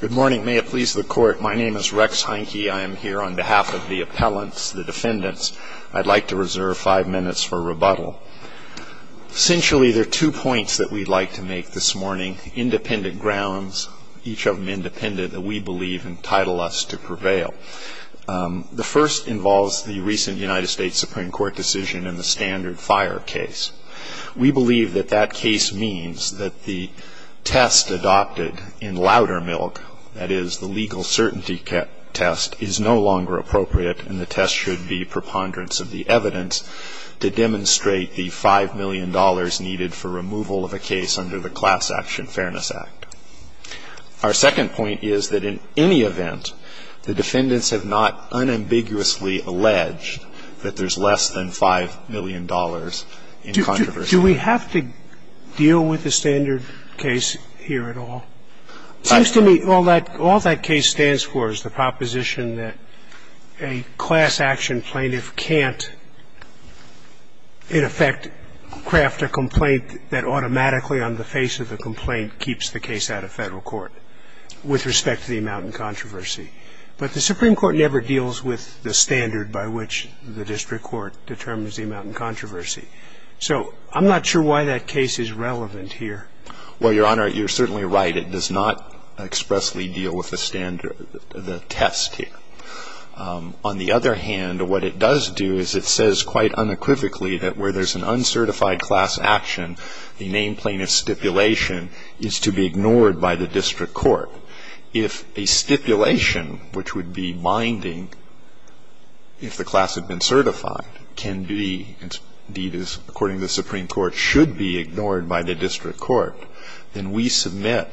Good morning. May it please the Court, my name is Rex Heineke. I am here on behalf of the appellants, the defendants. I'd like to reserve five minutes for rebuttal. Essentially, there are two points that we'd like to make this morning, independent grounds, each of them independent, that we believe entitle us to prevail. The first involves the recent United States Supreme Court decision in the Standard Fire case. We believe that that case means that the test adopted in louder milk, that is, the legal certainty test, is no longer appropriate and the test should be preponderance of the evidence to demonstrate the $5 million needed for removal of a case under the Class Action Fairness Act. Our second point is that in any event, the defendants have not unambiguously alleged that there's less than $5 million in controversy. Do we have to deal with the standard case here at all? It seems to me all that case stands for is the proposition that a class action plaintiff can't, in effect, craft a complaint that automatically on the face of the complaint keeps the case out of Federal court with respect to the amount in controversy. But the Supreme Court never deals with the standard by which the district court determines the amount in controversy. So I'm not sure why that case is relevant here. Well, Your Honor, you're certainly right. It does not expressly deal with the standard, the test here. On the other hand, what it does do is it says quite unequivocally that where there's an uncertified class action, the name plaintiff stipulation is to be ignored by the district court. If a stipulation which would be binding if the class had been certified can be, and indeed is according to the Supreme Court, should be ignored by the district court, then we submit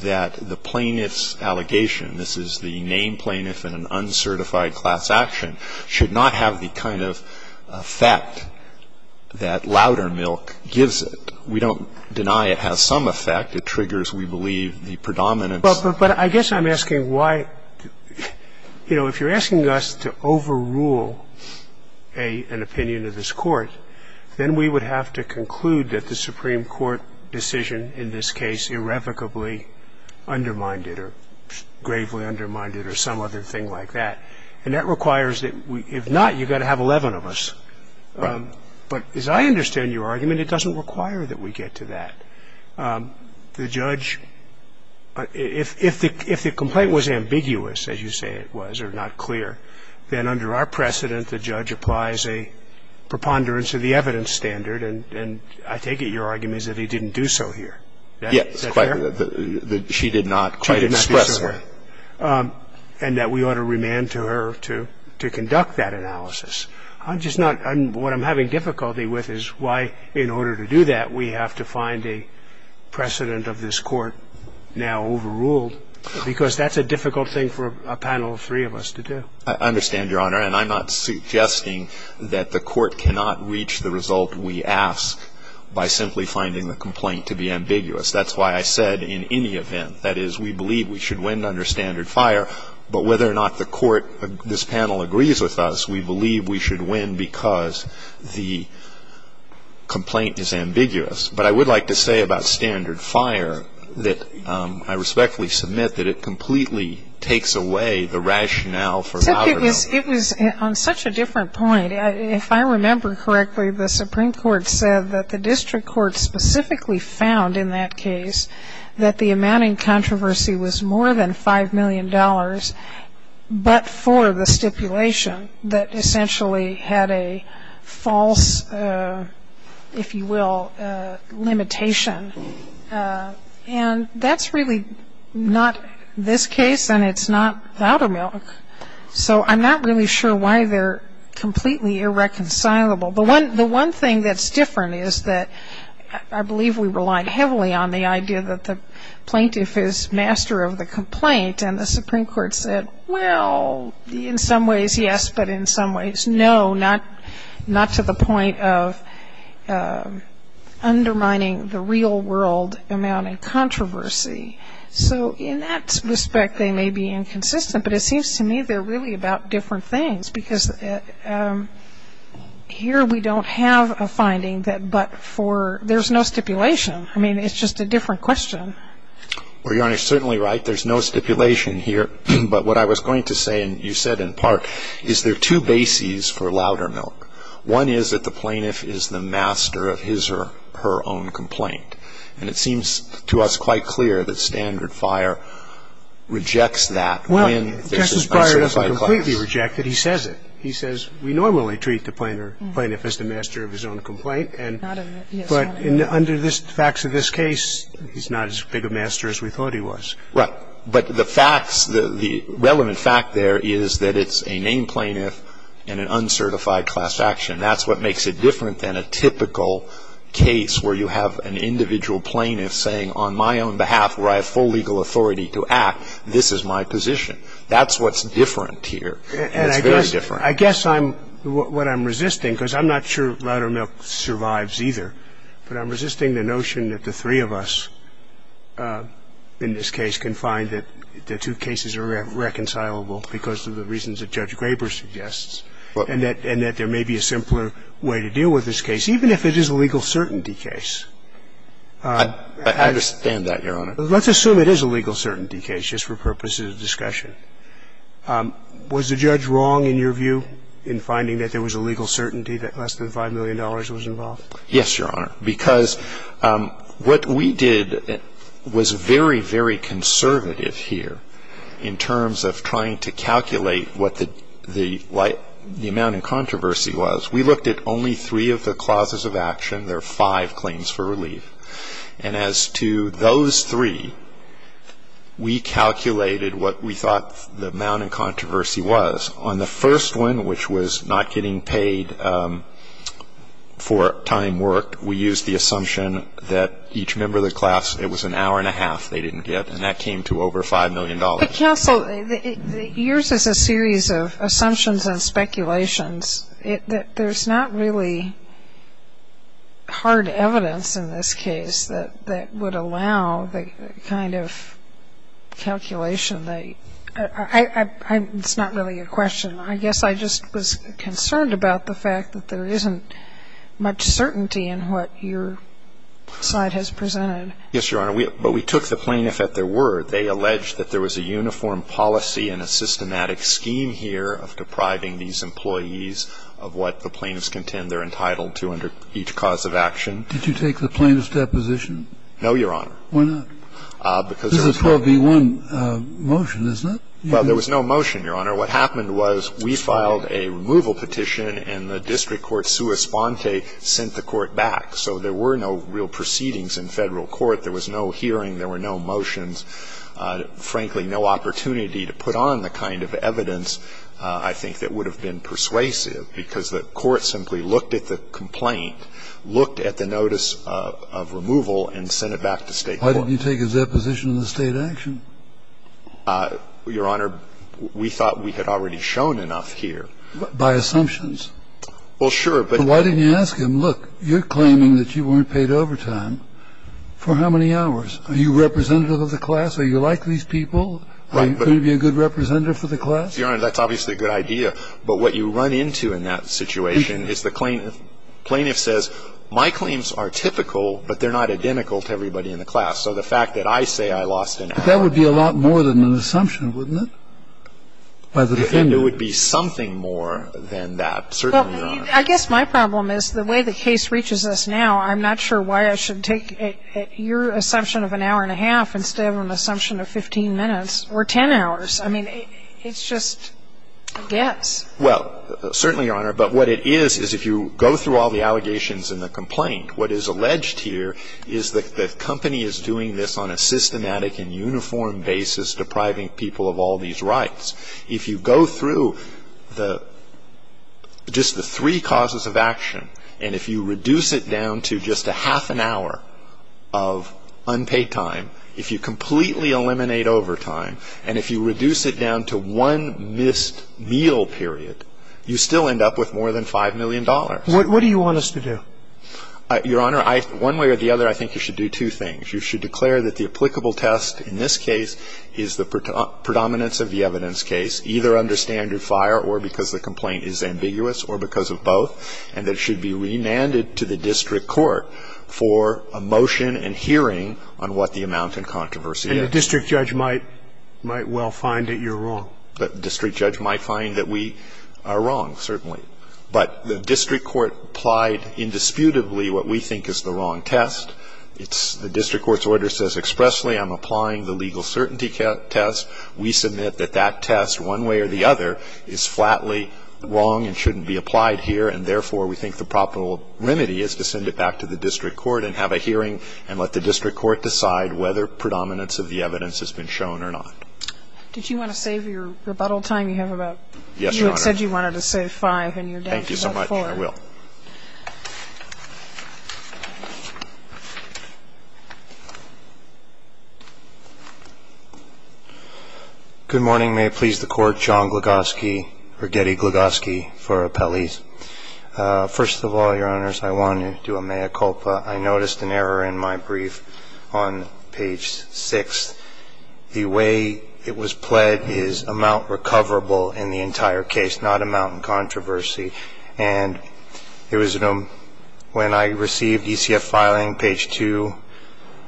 that the plaintiff's allegation, this is the name plaintiff in an uncertified class action, should not have the kind of effect that louder milk gives it. We don't deny it has some effect. It triggers, we believe, the predominance. But I guess I'm asking why, you know, if you're asking us to overrule an opinion of this Court, then we would have to conclude that the Supreme Court decision in this case irrevocably undermined it or gravely undermined it or some other thing like that. And that requires that if not, you've got to have 11 of us. Right. But as I understand your argument, it doesn't require that we get to that. The judge, if the complaint was ambiguous, as you say it was, or not clear, then under our precedent the judge applies a preponderance of the evidence standard. And I take it your argument is that he didn't do so here. Yes. Is that fair? She did not quite express that. And that we ought to remand to her to conduct that analysis. I'm just not – what I'm having difficulty with is why in order to do that we have to find a precedent of this Court now overruled, because that's a difficult thing for a panel of three of us to do. I understand, Your Honor. And I'm not suggesting that the Court cannot reach the result we ask by simply finding the complaint to be ambiguous. That's why I said in any event, that is, we believe we should win under standard fire. But whether or not the Court, this panel agrees with us, we believe we should win because the complaint is ambiguous. But I would like to say about standard fire that I respectfully submit that it completely takes away the rationale for algorithm. Except it was on such a different point. If I remember correctly, the Supreme Court said that the district court specifically found in that case that the amount in controversy was more than $5 million, but for the stipulation that essentially had a false, if you will, limitation. And that's really not this case, and it's not Voudamilk. So I'm not really sure why they're completely irreconcilable. The one thing that's different is that I believe we relied heavily on the idea that the plaintiff is master of the complaint, and the Supreme Court said, well, in some ways, yes, but in some ways, no, not to the point of undermining the real world amount in controversy. So in that respect, they may be inconsistent, but it seems to me they're really about different things. Because here we don't have a finding that but for, there's no stipulation. I mean, it's just a different question. Well, Your Honor, you're certainly right. There's no stipulation here. But what I was going to say, and you said in part, is there are two bases for Voudamilk. One is that the plaintiff is the master of his or her own complaint. And it seems to us quite clear that Standard Fire rejects that when there's a specified clause. Well, Justice Breyer doesn't completely reject it. He says it. He says we normally treat the plaintiff as the master of his own complaint. But under the facts of this case, he's not as big a master as we thought he was. Right. But the facts, the relevant fact there is that it's a named plaintiff and an uncertified class action. That's what makes it different than a typical case where you have an individual plaintiff saying on my own behalf, where I have full legal authority to act, this is my position. That's what's different here. It's very different. I guess I'm what I'm resisting, because I'm not sure Voudamilk survives either. But I'm resisting the notion that the three of us in this case can find that the two cases are reconcilable because of the reasons that Judge Graber suggests. And that there may be a simpler way to deal with this case, even if it is a legal certainty case. I understand that, Your Honor. Let's assume it is a legal certainty case, just for purposes of discussion. Was the judge wrong in your view in finding that there was a legal certainty that less than $5 million was involved? Yes, Your Honor. Because what we did was very, very conservative here in terms of trying to calculate what the amount of controversy was. We looked at only three of the clauses of action. There are five claims for relief. And as to those three, we calculated what we thought the amount of controversy was. On the first one, which was not getting paid for time worked, we used the assumption that each member of the class, it was an hour and a half they didn't get. And that came to over $5 million. But, counsel, yours is a series of assumptions and speculations. There's not really hard evidence in this case that would allow the kind of calculation that I ‑‑ it's not really a question. I guess I just was concerned about the fact that there isn't much certainty in what your slide has presented. Yes, Your Honor. But we took the plaintiff at their word. They alleged that there was a uniform policy and a systematic scheme here of depriving these employees of what the plaintiffs contend they're entitled to under each cause of action. Did you take the plaintiff's deposition? No, Your Honor. Why not? Because there was no ‑‑ This is a 12B1 motion, isn't it? Well, there was no motion, Your Honor. What happened was we filed a removal petition, and the district court, sua sponte, sent the court back. So there were no real proceedings in Federal court. There was no hearing. There were no motions. Frankly, no opportunity to put on the kind of evidence, I think, that would have been persuasive because the court simply looked at the complaint, looked at the notice of removal and sent it back to State court. Why didn't you take his deposition in the State action? Your Honor, we thought we had already shown enough here. By assumptions? Well, sure. But why didn't you ask him, look, you're claiming that you weren't paid overtime for how many hours? Are you representative of the class? Are you like these people? Right. Could you be a good representative for the class? Your Honor, that's obviously a good idea. But what you run into in that situation is the plaintiff. The plaintiff says, my claims are typical, but they're not identical to everybody in the class. So the fact that I say I lost an hour. But that would be a lot more than an assumption, wouldn't it, by the defendant? It would be something more than that, certainly, Your Honor. Well, I guess my problem is the way the case reaches us now, I'm not sure why I should take your assumption of an hour and a half instead of an assumption of 15 minutes or 10 hours. I mean, it's just a guess. Well, certainly, Your Honor. But what it is, is if you go through all the allegations in the complaint, what is alleged here is that the company is doing this on a systematic and uniform basis, depriving people of all these rights. If you go through just the three causes of action, and if you reduce it down to just a half an hour of unpaid time, if you completely eliminate overtime, and if you reduce it down to one missed meal period, you still end up with more than $5 million. What do you want us to do? Your Honor, one way or the other, I think you should do two things. You should declare that the applicable test in this case is the predominance of the evidence case, either under standard fire or because the complaint is ambiguous or because of both, and that it should be remanded to the district court for a motion and hearing on what the amount in controversy is. And the district judge might well find that you're wrong. The district judge might find that we are wrong, certainly. But the district court applied indisputably what we think is the wrong test. The district court's order says expressly I'm applying the legal certainty test. We submit that that test one way or the other is flatly wrong and shouldn't be applied here, and therefore, we think the proper remedy is to send it back to the district court and have a hearing and let the district court decide whether predominance of the evidence has been shown or not. Did you want to save your rebuttal time? You have about ---- Yes, Your Honor. You had said you wanted to save five, and you're down to about four. Thank you so much. I will. Thank you. Mr. Gould. Good morning. May it please the Court. John Glagosky or Geddy Glagosky for appellees. First of all, Your Honors, I wanted to amea culpa. I noticed an error in my brief on page 6. The way it was pled is amount recoverable in the entire case, not amount in controversy. And when I received ECF filing, page 2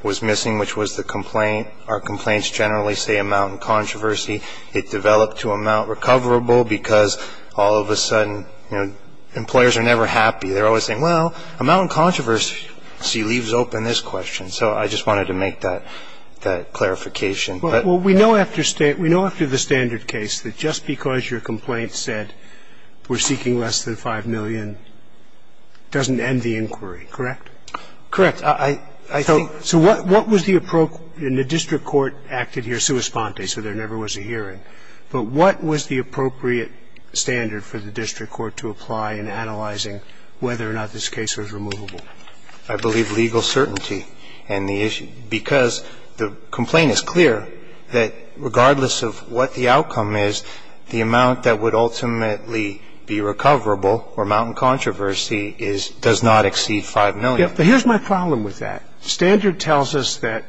was missing, which was the complaint. Our complaints generally say amount in controversy. It developed to amount recoverable because all of a sudden employers are never happy. They're always saying, well, amount in controversy leaves open this question. So I just wanted to make that clarification. Well, we know after the standard case that just because your complaint said we're seeking less than 5 million doesn't end the inquiry, correct? Correct. I think so. So what was the appropriate and the district court acted here sua sponte, so there never was a hearing. But what was the appropriate standard for the district court to apply in analyzing whether or not this case was removable? I believe legal certainty and the issue, because the complaint is clear that regardless of what the outcome is, the amount that would ultimately be recoverable or amount in controversy does not exceed 5 million. Here's my problem with that. Standard tells us that,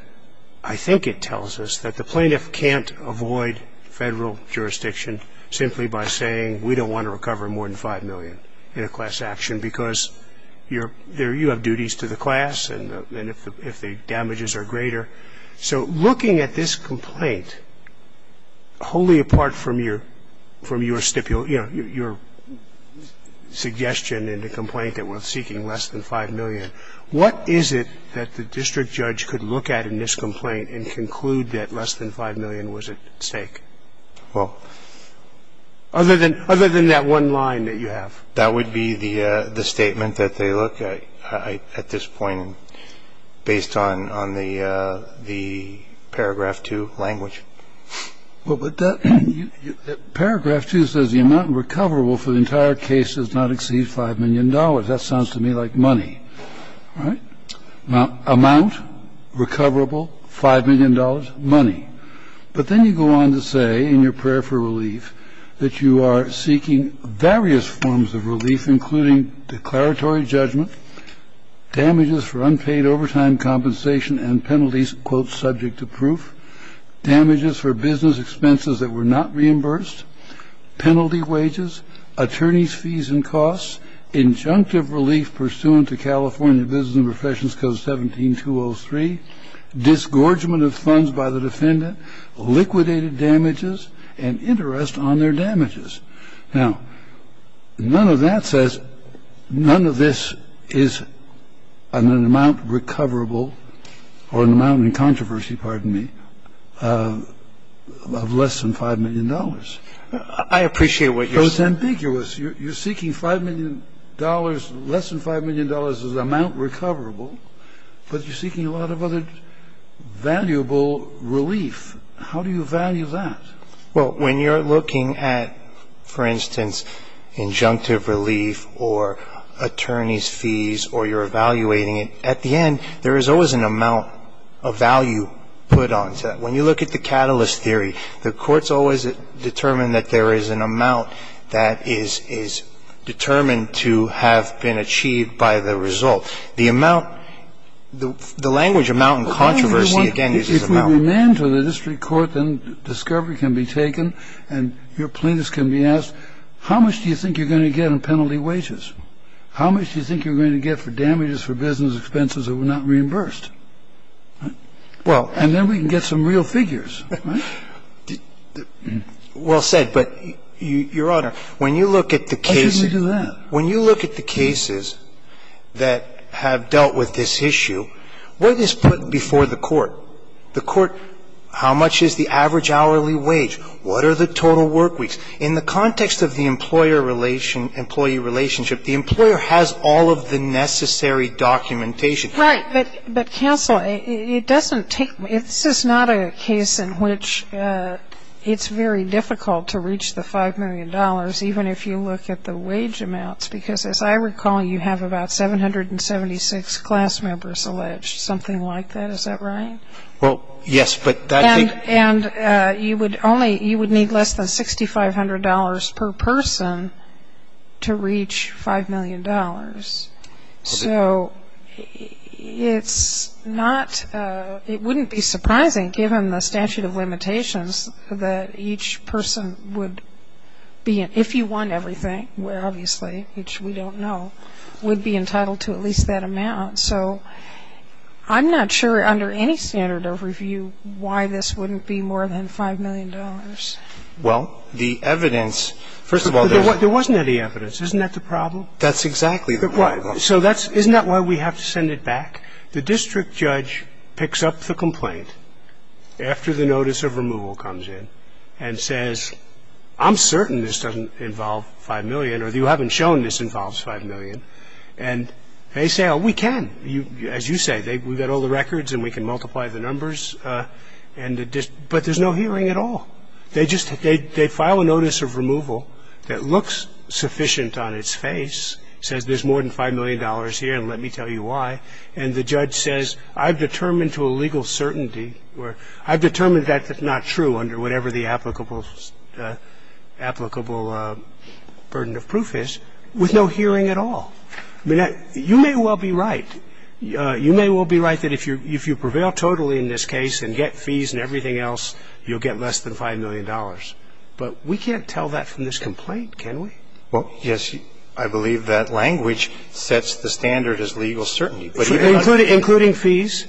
I think it tells us, that the plaintiff can't avoid Federal jurisdiction simply by saying we don't want to recover more than 5 million in a class action because you have duties to the class and if the damages are greater. So looking at this complaint, wholly apart from your suggestion in the complaint that we're seeking less than 5 million, what is it that the district judge could look at in this complaint and conclude that less than 5 million was at stake? Well, other than that one line that you have. That would be the statement that they look at at this point, based on the paragraph two language. But paragraph two says the amount recoverable for the entire case does not exceed $5 million. That sounds to me like money, right? Amount recoverable, $5 million, money. But then you go on to say in your prayer for relief that you are seeking various forms of relief, including declaratory judgment, damages for unpaid overtime compensation and penalties, quote, subject to proof. Damages for business expenses that were not reimbursed, penalty wages, attorney's fees and costs, injunctive relief pursuant to California Business and Professions Code 17203, disgorgement of funds by the defendant, liquidated damages, and interest on their damages. Now, none of that says none of this is an amount recoverable or an amount in controversy, pardon me, of less than $5 million. I appreciate what you're saying. So it's ambiguous. You're seeking $5 million, less than $5 million as an amount recoverable, but you're seeking a lot of other valuable relief. How do you value that? Well, when you're looking at, for instance, injunctive relief or attorney's fees or you're evaluating it, at the end, there is always an amount of value put onto that. When you look at the catalyst theory, the court's always determined that there is an amount that is determined to have been achieved by the result. The amount, the language amount in controversy, again, uses amount. If you demand to the district court, then discovery can be taken and your plaintiffs can be asked, how much do you think you're going to get on penalty wages? How much do you think you're going to get for damages, for business expenses that were not reimbursed? And then we can get some real figures, right? Well said. But, Your Honor, when you look at the cases that have dealt with this issue, what is put before the court? The court, how much is the average hourly wage? What are the total work weeks? In the context of the employer-employee relationship, the employer has all of the necessary documentation. Right. But, counsel, it doesn't take ñ this is not a case in which it's very difficult to reach the $5 million, even if you look at the wage amounts, because as I recall, you have about 776 class members alleged, something like that. Is that right? Well, yes. And you would need less than $6,500 per person to reach $5 million. So it wouldn't be surprising, given the statute of limitations, that each person would be ñ if you want everything, obviously, which we don't know, would be entitled to at least that amount. So I'm not sure under any standard of review why this wouldn't be more than $5 million. Well, the evidence ñ first of all, there wasn't any evidence. Isn't that the problem? That's exactly the problem. So isn't that why we have to send it back? The district judge picks up the complaint after the notice of removal comes in and says, I'm certain this doesn't involve $5 million, or you haven't shown this involves $5 million. And they say, oh, we can, as you say. We've got all the records and we can multiply the numbers. But there's no hearing at all. They file a notice of removal that looks sufficient on its face, says there's more than $5 million here and let me tell you why. And the judge says, I've determined to a legal certainty, I've determined that that's not true under whatever the applicable burden of proof is, with no hearing at all. I mean, you may well be right. You may well be right that if you prevail totally in this case and get fees and everything else, you'll get less than $5 million. But we can't tell that from this complaint, can we? Well, yes, I believe that language sets the standard as legal certainty. Including fees?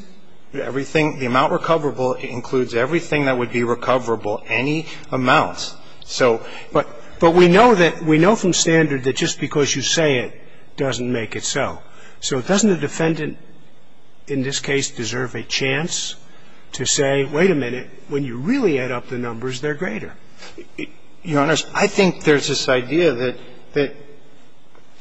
Everything, the amount recoverable includes everything that would be recoverable, any amounts. So, but we know that, we know from standard that just because you say it doesn't make it so. So doesn't the defendant in this case deserve a chance to say, wait a minute, when you really add up the numbers, they're greater? Your Honor, I think there's this idea that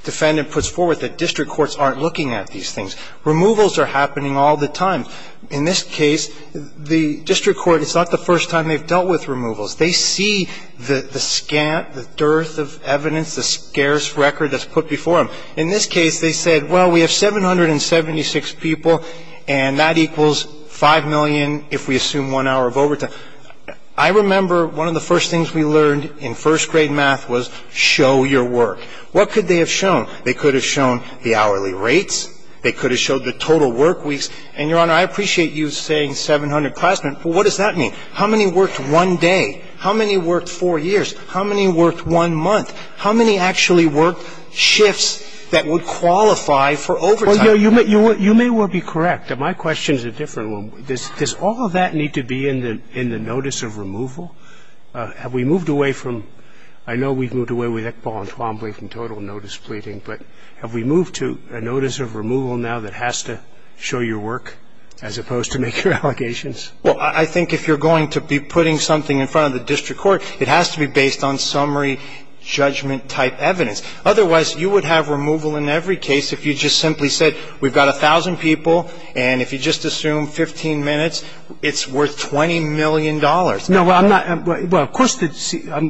defendant puts forward that district courts aren't looking at these things. Removals are happening all the time. In this case, the district court, it's not the first time they've dealt with removals. They see the scant, the dearth of evidence, the scarce record that's put before them. In this case, they said, well, we have 776 people, and that equals $5 million, if we assume one hour of overtime. I remember one of the first things we learned in first grade math was show your work. What could they have shown? They could have shown the hourly rates. They could have shown the total work weeks. And, Your Honor, I appreciate you saying 700 classmen, but what does that mean? How many worked one day? How many worked four years? How many worked one month? How many actually worked shifts that would qualify for overtime? Well, Your Honor, you may well be correct. My question is a different one. Does all of that need to be in the notice of removal? Have we moved away from – I know we've moved away with Iqbal Entwembley but have we moved to a notice of removal now that has to show your work as opposed to make your allegations? Well, I think if you're going to be putting something in front of the district court, it has to be based on summary judgment-type evidence. Otherwise, you would have removal in every case if you just simply said we've got 1,000 people, and if you just assume 15 minutes, it's worth $20 million. No, well, I'm not – well, of course,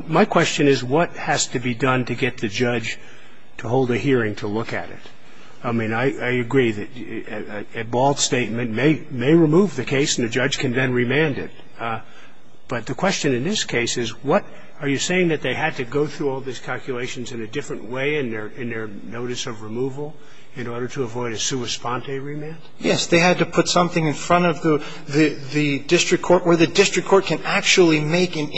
my question is what has to be done to get the judge to hold a hearing to look at it? I mean, I agree that Iqbal's statement may remove the case and the judge can then remand it. But the question in this case is what – are you saying that they had to go through all these calculations in a different way in their notice of removal in order to avoid a sua sponte remand? Yes. They had to put something in front of the district court where the district court can actually make an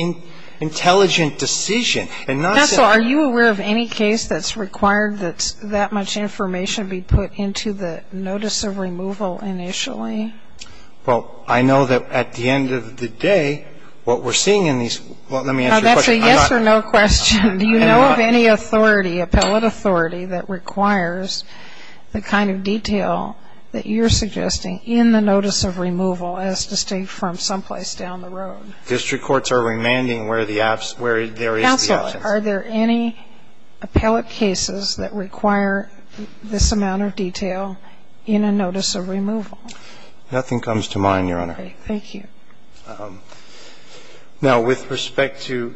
intelligent decision and not say – So are you aware of any case that's required that that much information be put into the notice of removal initially? Well, I know that at the end of the day, what we're seeing in these – well, let me answer your question. That's a yes or no question. Do you know of any authority, appellate authority that requires the kind of detail that you're suggesting in the notice of removal as to stay from someplace down the road? District courts are remanding where the – where there is the absence. Counsel, are there any appellate cases that require this amount of detail in a notice of removal? Nothing comes to mind, Your Honor. Thank you. Now, with respect to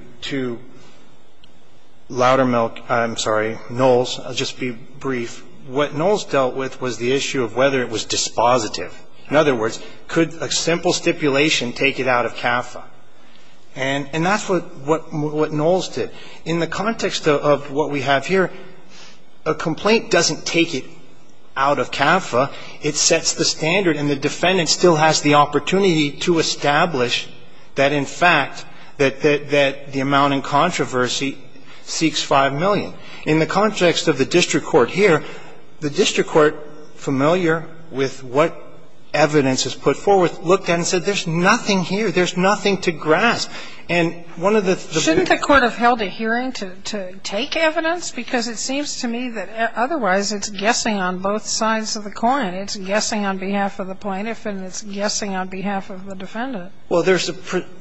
Loudermilk – I'm sorry, Knowles, I'll just be brief. What Knowles dealt with was the issue of whether it was dispositive. In other words, could a simple stipulation take it out of CAFA? And that's what Knowles did. In the context of what we have here, a complaint doesn't take it out of CAFA. It sets the standard. And the defendant still has the opportunity to establish that, in fact, that the amount in controversy seeks $5 million. In the context of the district court here, the district court, familiar with what evidence is put forward, looked at it and said there's nothing here, there's nothing to grasp. And one of the – Shouldn't the court have held a hearing to take evidence? Because it seems to me that otherwise it's guessing on both sides of the coin. It's guessing on behalf of the plaintiff and it's guessing on behalf of the defendant. Well, there's a –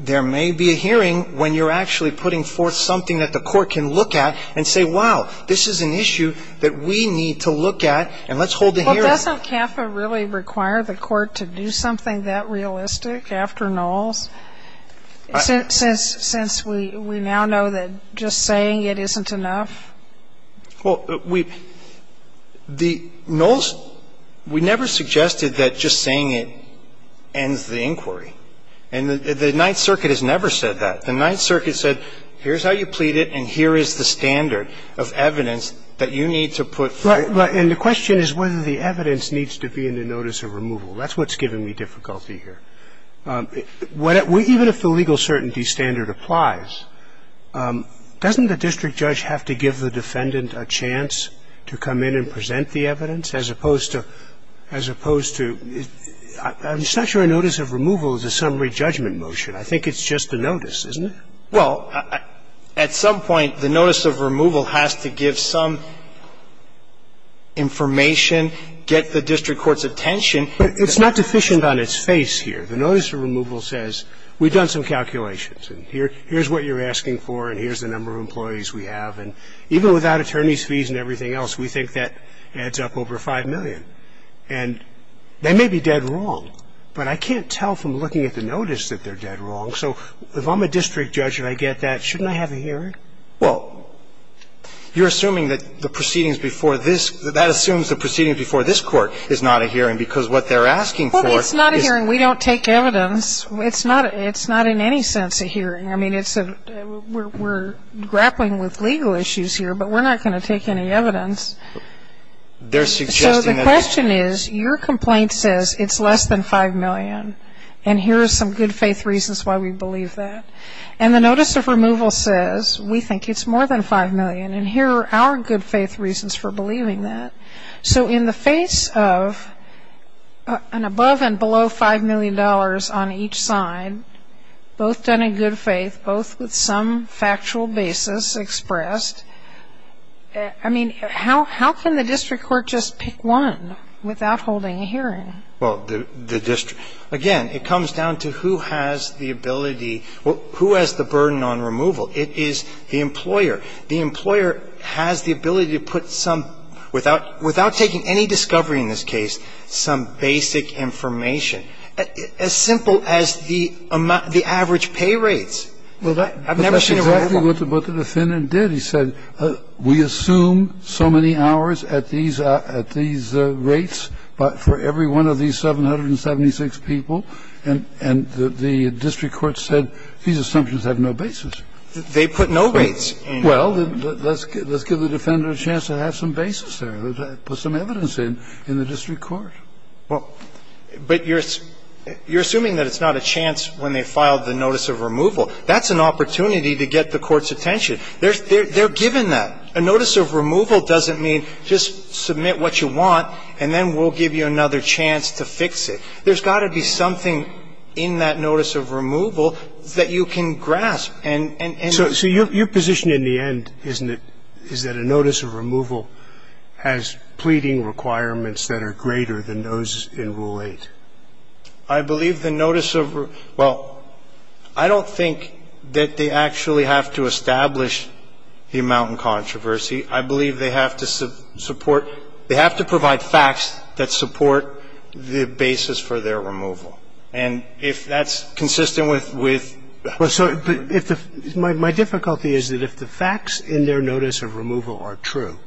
there may be a hearing when you're actually putting forth something that the court can look at and say, wow, this is an issue that we need to look at and let's hold a hearing. Well, doesn't CAFA really require the court to do something that realistic after Knowles? Since we now know that just saying it isn't enough? Well, we – the Knowles – we never suggested that just saying it ends the inquiry. And the Ninth Circuit has never said that. The Ninth Circuit said here's how you plead it and here is the standard of evidence that you need to put forth. Right. And the question is whether the evidence needs to be in the notice of removal. That's what's giving me difficulty here. Even if the legal certainty standard applies, doesn't the district judge have to give the defendant a chance to come in and present the evidence as opposed to – as opposed to – I'm just not sure a notice of removal is a summary judgment motion. I think it's just a notice, isn't it? Well, at some point, the notice of removal has to give some information, get the district court's attention. But it's not deficient on its face here. The notice of removal says we've done some calculations and here's what you're asking for and here's the number of employees we have. And even without attorney's fees and everything else, we think that adds up over 5 million. And they may be dead wrong, but I can't tell from looking at the notice that they're dead wrong. So if I'm a district judge and I get that, shouldn't I have a hearing? Well, you're assuming that the proceedings before this – that assumes the proceedings before this court is not a hearing because what they're asking for is – Well, it's not a hearing. We don't take evidence. It's not – it's not in any sense a hearing. I mean, it's a – we're grappling with legal issues here, but we're not going to take any evidence. They're suggesting that – So the question is, your complaint says it's less than 5 million and here are some good faith reasons why we believe that. And the notice of removal says we think it's more than 5 million and here are our good faith reasons for believing that. So in the face of an above and below $5 million on each side, both done in good faith, both with some factual basis expressed, I mean, how can the district court just pick one without holding a hearing? Well, the district – again, it comes down to who has the ability – who has the burden on removal. It is the employer. The employer has the ability to put some – without taking any discovery in this case, some basic information. As simple as the average pay rates. I've never seen a waiver. But that's exactly what the defendant did. He said, we assume so many hours at these rates for every one of these 776 people, and the district court said these assumptions have no basis. They put no rates in. Well, let's give the defendant a chance to have some basis there, put some evidence in in the district court. Well, but you're assuming that it's not a chance when they filed the notice of removal. That's an opportunity to get the court's attention. They're given that. A notice of removal doesn't mean just submit what you want and then we'll give you another chance to fix it. There's got to be something in that notice of removal that you can grasp. So your position in the end, isn't it, is that a notice of removal has pleading requirements that are greater than those in Rule 8? I believe the notice of – well, I don't think that they actually have to establish the amount in controversy. I believe they have to support – they have to provide facts that support the basis for their removal. And if that's consistent with – Well, so if the – my difficulty is that if the facts in their notice of removal are true,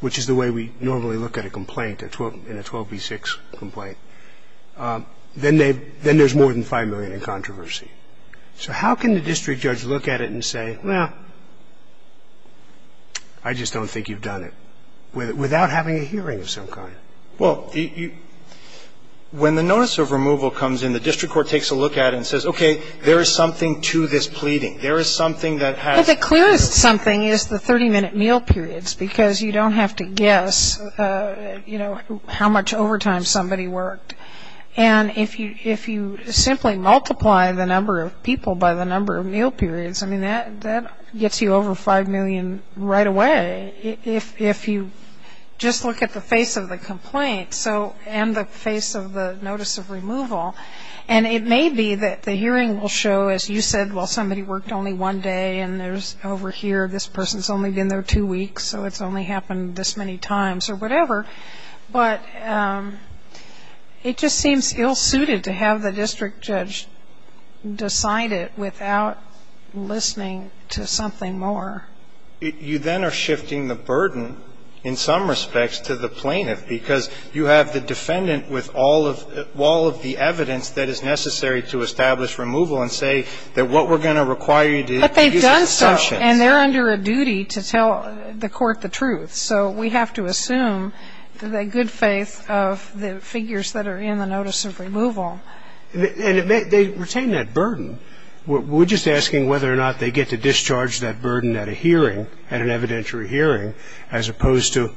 which is the way we normally look at a complaint, in a 12B6 complaint, then there's more than 5 million in controversy. So how can the district judge look at it and say, well, I just don't think you've done it without having a hearing of some kind? Well, when the notice of removal comes in, the district court takes a look at it and says, okay, there is something to this pleading. There is something that has – Well, the clearest something is the 30-minute meal periods because you don't have to guess, you know, how much overtime somebody worked. And if you simply multiply the number of people by the number of meal periods, I mean, that gets you over 5 million right away if you just look at the face of the complaint and the face of the notice of removal. And it may be that the hearing will show, as you said, well, somebody worked only one day and there's – over here, this person's only been there two weeks, so it's only happened this many times or whatever. But it just seems ill-suited to have the district judge decide it without listening to something more. You then are shifting the burden, in some respects, to the plaintiff because you have the defendant with all of the evidence that is necessary to establish removal and say that what we're going to require you to – But they've done so, and they're under a duty to tell the court the truth. So we have to assume the good faith of the figures that are in the notice of removal. And they retain that burden. We're just asking whether or not they get to discharge that burden at a hearing, at an evidentiary hearing, as opposed to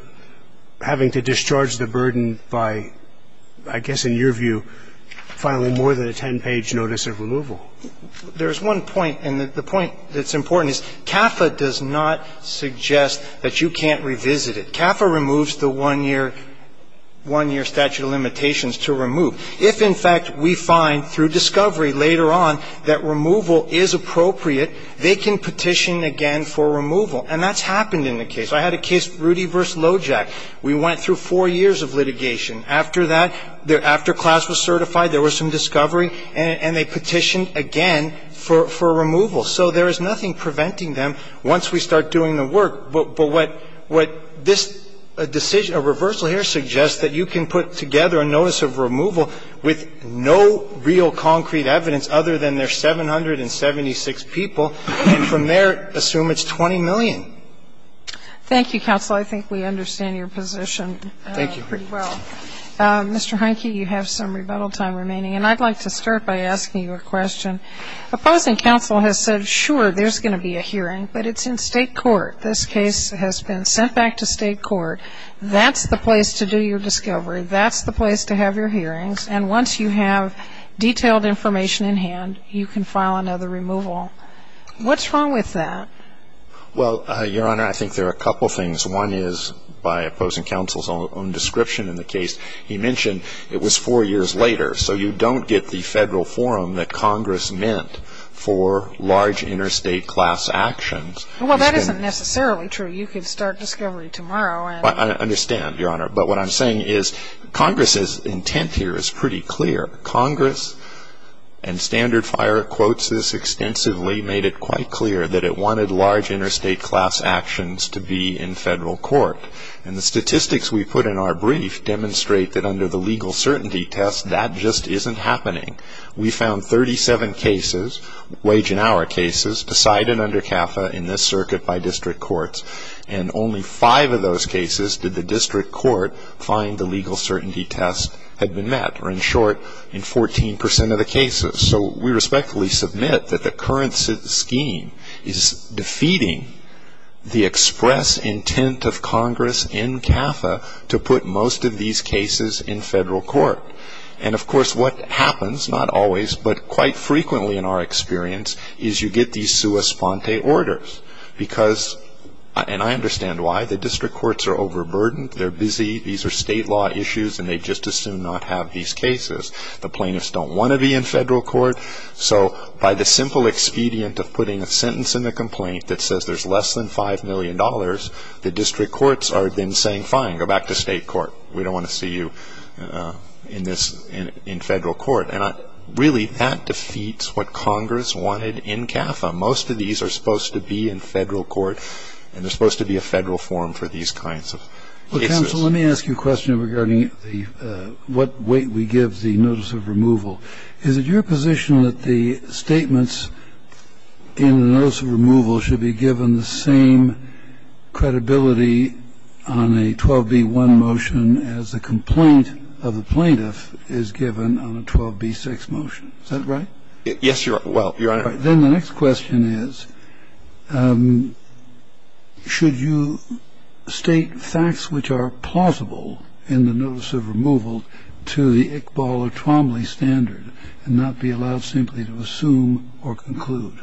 having to discharge the burden by, I guess in your view, filing more than a 10-page notice of removal. There's one point, and the point that's important is CAFA does not suggest that you can't revisit it. CAFA removes the one-year statute of limitations to remove. If, in fact, we find through discovery later on that removal is appropriate, they can petition again for removal. And that's happened in the case. I had a case, Rudy v. Lojack. We went through four years of litigation. After that, after class was certified, there was some discovery, and they petitioned again for removal. So there is nothing preventing them once we start doing the work. But what this decision, a reversal here, suggests that you can put together a notice of removal with no real concrete evidence other than there's 776 people, and from there assume it's 20 million. Thank you, counsel. I think we understand your position pretty well. Thank you. Mr. Heineke, you have some rebuttal time remaining. And I'd like to start by asking you a question. Opposing counsel has said, sure, there's going to be a hearing, but it's in state court. This case has been sent back to state court. That's the place to do your discovery. That's the place to have your hearings. And once you have detailed information in hand, you can file another removal. What's wrong with that? Well, Your Honor, I think there are a couple things. One is, by opposing counsel's own description in the case, he mentioned it was four years later. So you don't get the federal forum that Congress meant for large interstate class actions. Well, that isn't necessarily true. You could start discovery tomorrow. I understand, Your Honor. But what I'm saying is Congress's intent here is pretty clear. Congress, and Standard Fire quotes this extensively, made it quite clear that it wanted large interstate class actions to be in federal court. And the statistics we put in our brief demonstrate that under the legal certainty test, that just isn't happening. We found 37 cases, wage and hour cases, decided under CAFA in this circuit by district courts. And only five of those cases did the district court find the legal certainty test had been met, or in short, in 14% of the cases. So we respectfully submit that the current scheme is defeating the express intent of Congress in CAFA to put most of these cases in federal court. And, of course, what happens, not always, but quite frequently in our experience, is you get these sua sponte orders. And I understand why. The district courts are overburdened. They're busy. These are state law issues, and they just as soon not have these cases. The plaintiffs don't want to be in federal court. So by the simple expedient of putting a sentence in the complaint that says there's less than $5 million, the district courts are then saying, fine, go back to state court. We don't want to see you in federal court. And really that defeats what Congress wanted in CAFA. Most of these are supposed to be in federal court, and they're supposed to be a federal form for these kinds of cases. Well, counsel, let me ask you a question regarding what weight we give the notice of removal. Is it your position that the statements in the notice of removal should be given the same credibility on a 12b-1 motion as the complaint of the plaintiff is given on a 12b-6 motion? Is that right? Yes, Your Honor. Then the next question is, should you state facts which are plausible in the notice of removal to the Iqbal or Twombly standard and not be allowed simply to assume or conclude?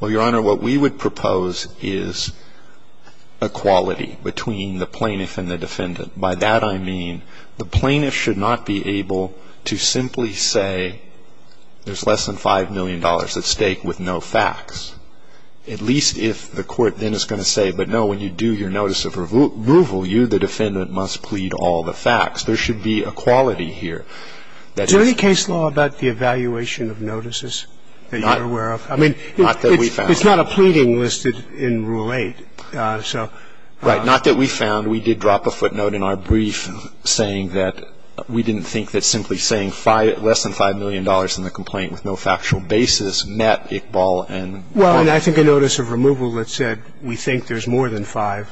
Well, Your Honor, what we would propose is equality between the plaintiff and the defendant. By that I mean the plaintiff should not be able to simply say there's less than $5 million. The defendant should not be able to say there's less than $5 million at stake with no facts, at least if the court then is going to say, but, no, when you do your notice of removal, you, the defendant, must plead all the facts. There should be equality here. Is there any case law about the evaluation of notices that you're aware of? I mean, it's not a pleading listed in Rule 8. Right. Not that we found. We did drop a footnote in our brief saying that we didn't think that simply saying less than $5 million in the complaint with no factual basis met Iqbal and Twombly. Well, and I think a notice of removal that said we think there's more than 5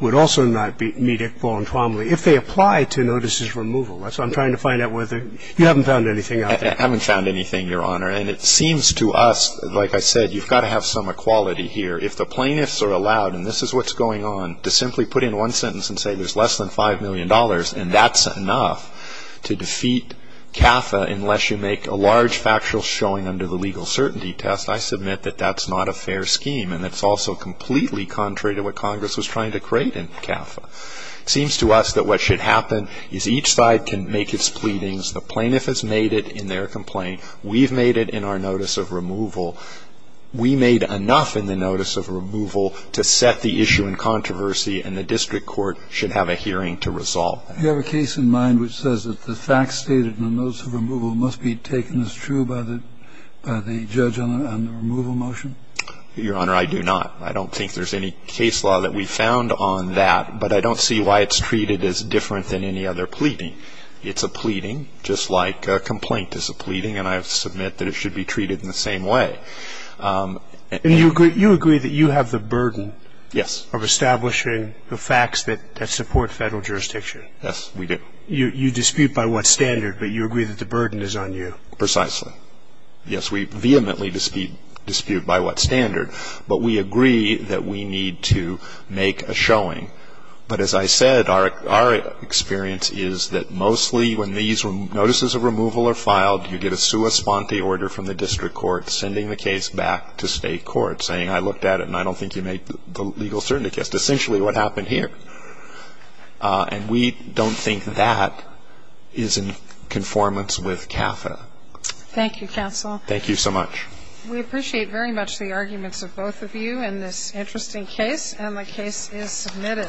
would also not meet Iqbal and Twombly if they apply to notices of removal. So I'm trying to find out whether you haven't found anything out there. I haven't found anything, Your Honor. And it seems to us, like I said, you've got to have some equality here. If the plaintiffs are allowed, and this is what's going on, to simply put in one sentence and say there's less than $5 million and that's enough to defeat CAFA unless you make a large factual showing under the legal certainty test, I submit that that's not a fair scheme. And it's also completely contrary to what Congress was trying to create in CAFA. It seems to us that what should happen is each side can make its pleadings. The plaintiff has made it in their complaint. We've made it in our notice of removal. We made enough in the notice of removal to set the issue in controversy and the district court should have a hearing to resolve that. Do you have a case in mind which says that the facts stated in the notice of removal must be taken as true by the judge on the removal motion? Your Honor, I do not. I don't think there's any case law that we found on that, but I don't see why it's treated as different than any other pleading. It's a pleading just like a complaint is a pleading, and I submit that it should be treated in the same way. And you agree that you have the burden of establishing the facts that support Federal jurisdiction? Yes, we do. You dispute by what standard, but you agree that the burden is on you? Precisely. Yes, we vehemently dispute by what standard, but we agree that we need to make a showing. But as I said, our experience is that mostly when these notices of removal are filed, you get a sua sponte order from the district court sending the case back to state court saying I looked at it and I don't think you made the legal certainty case, essentially what happened here. And we don't think that is in conformance with CAFA. Thank you, counsel. Thank you so much. We appreciate very much the arguments of both of you in this interesting case, and the case is submitted.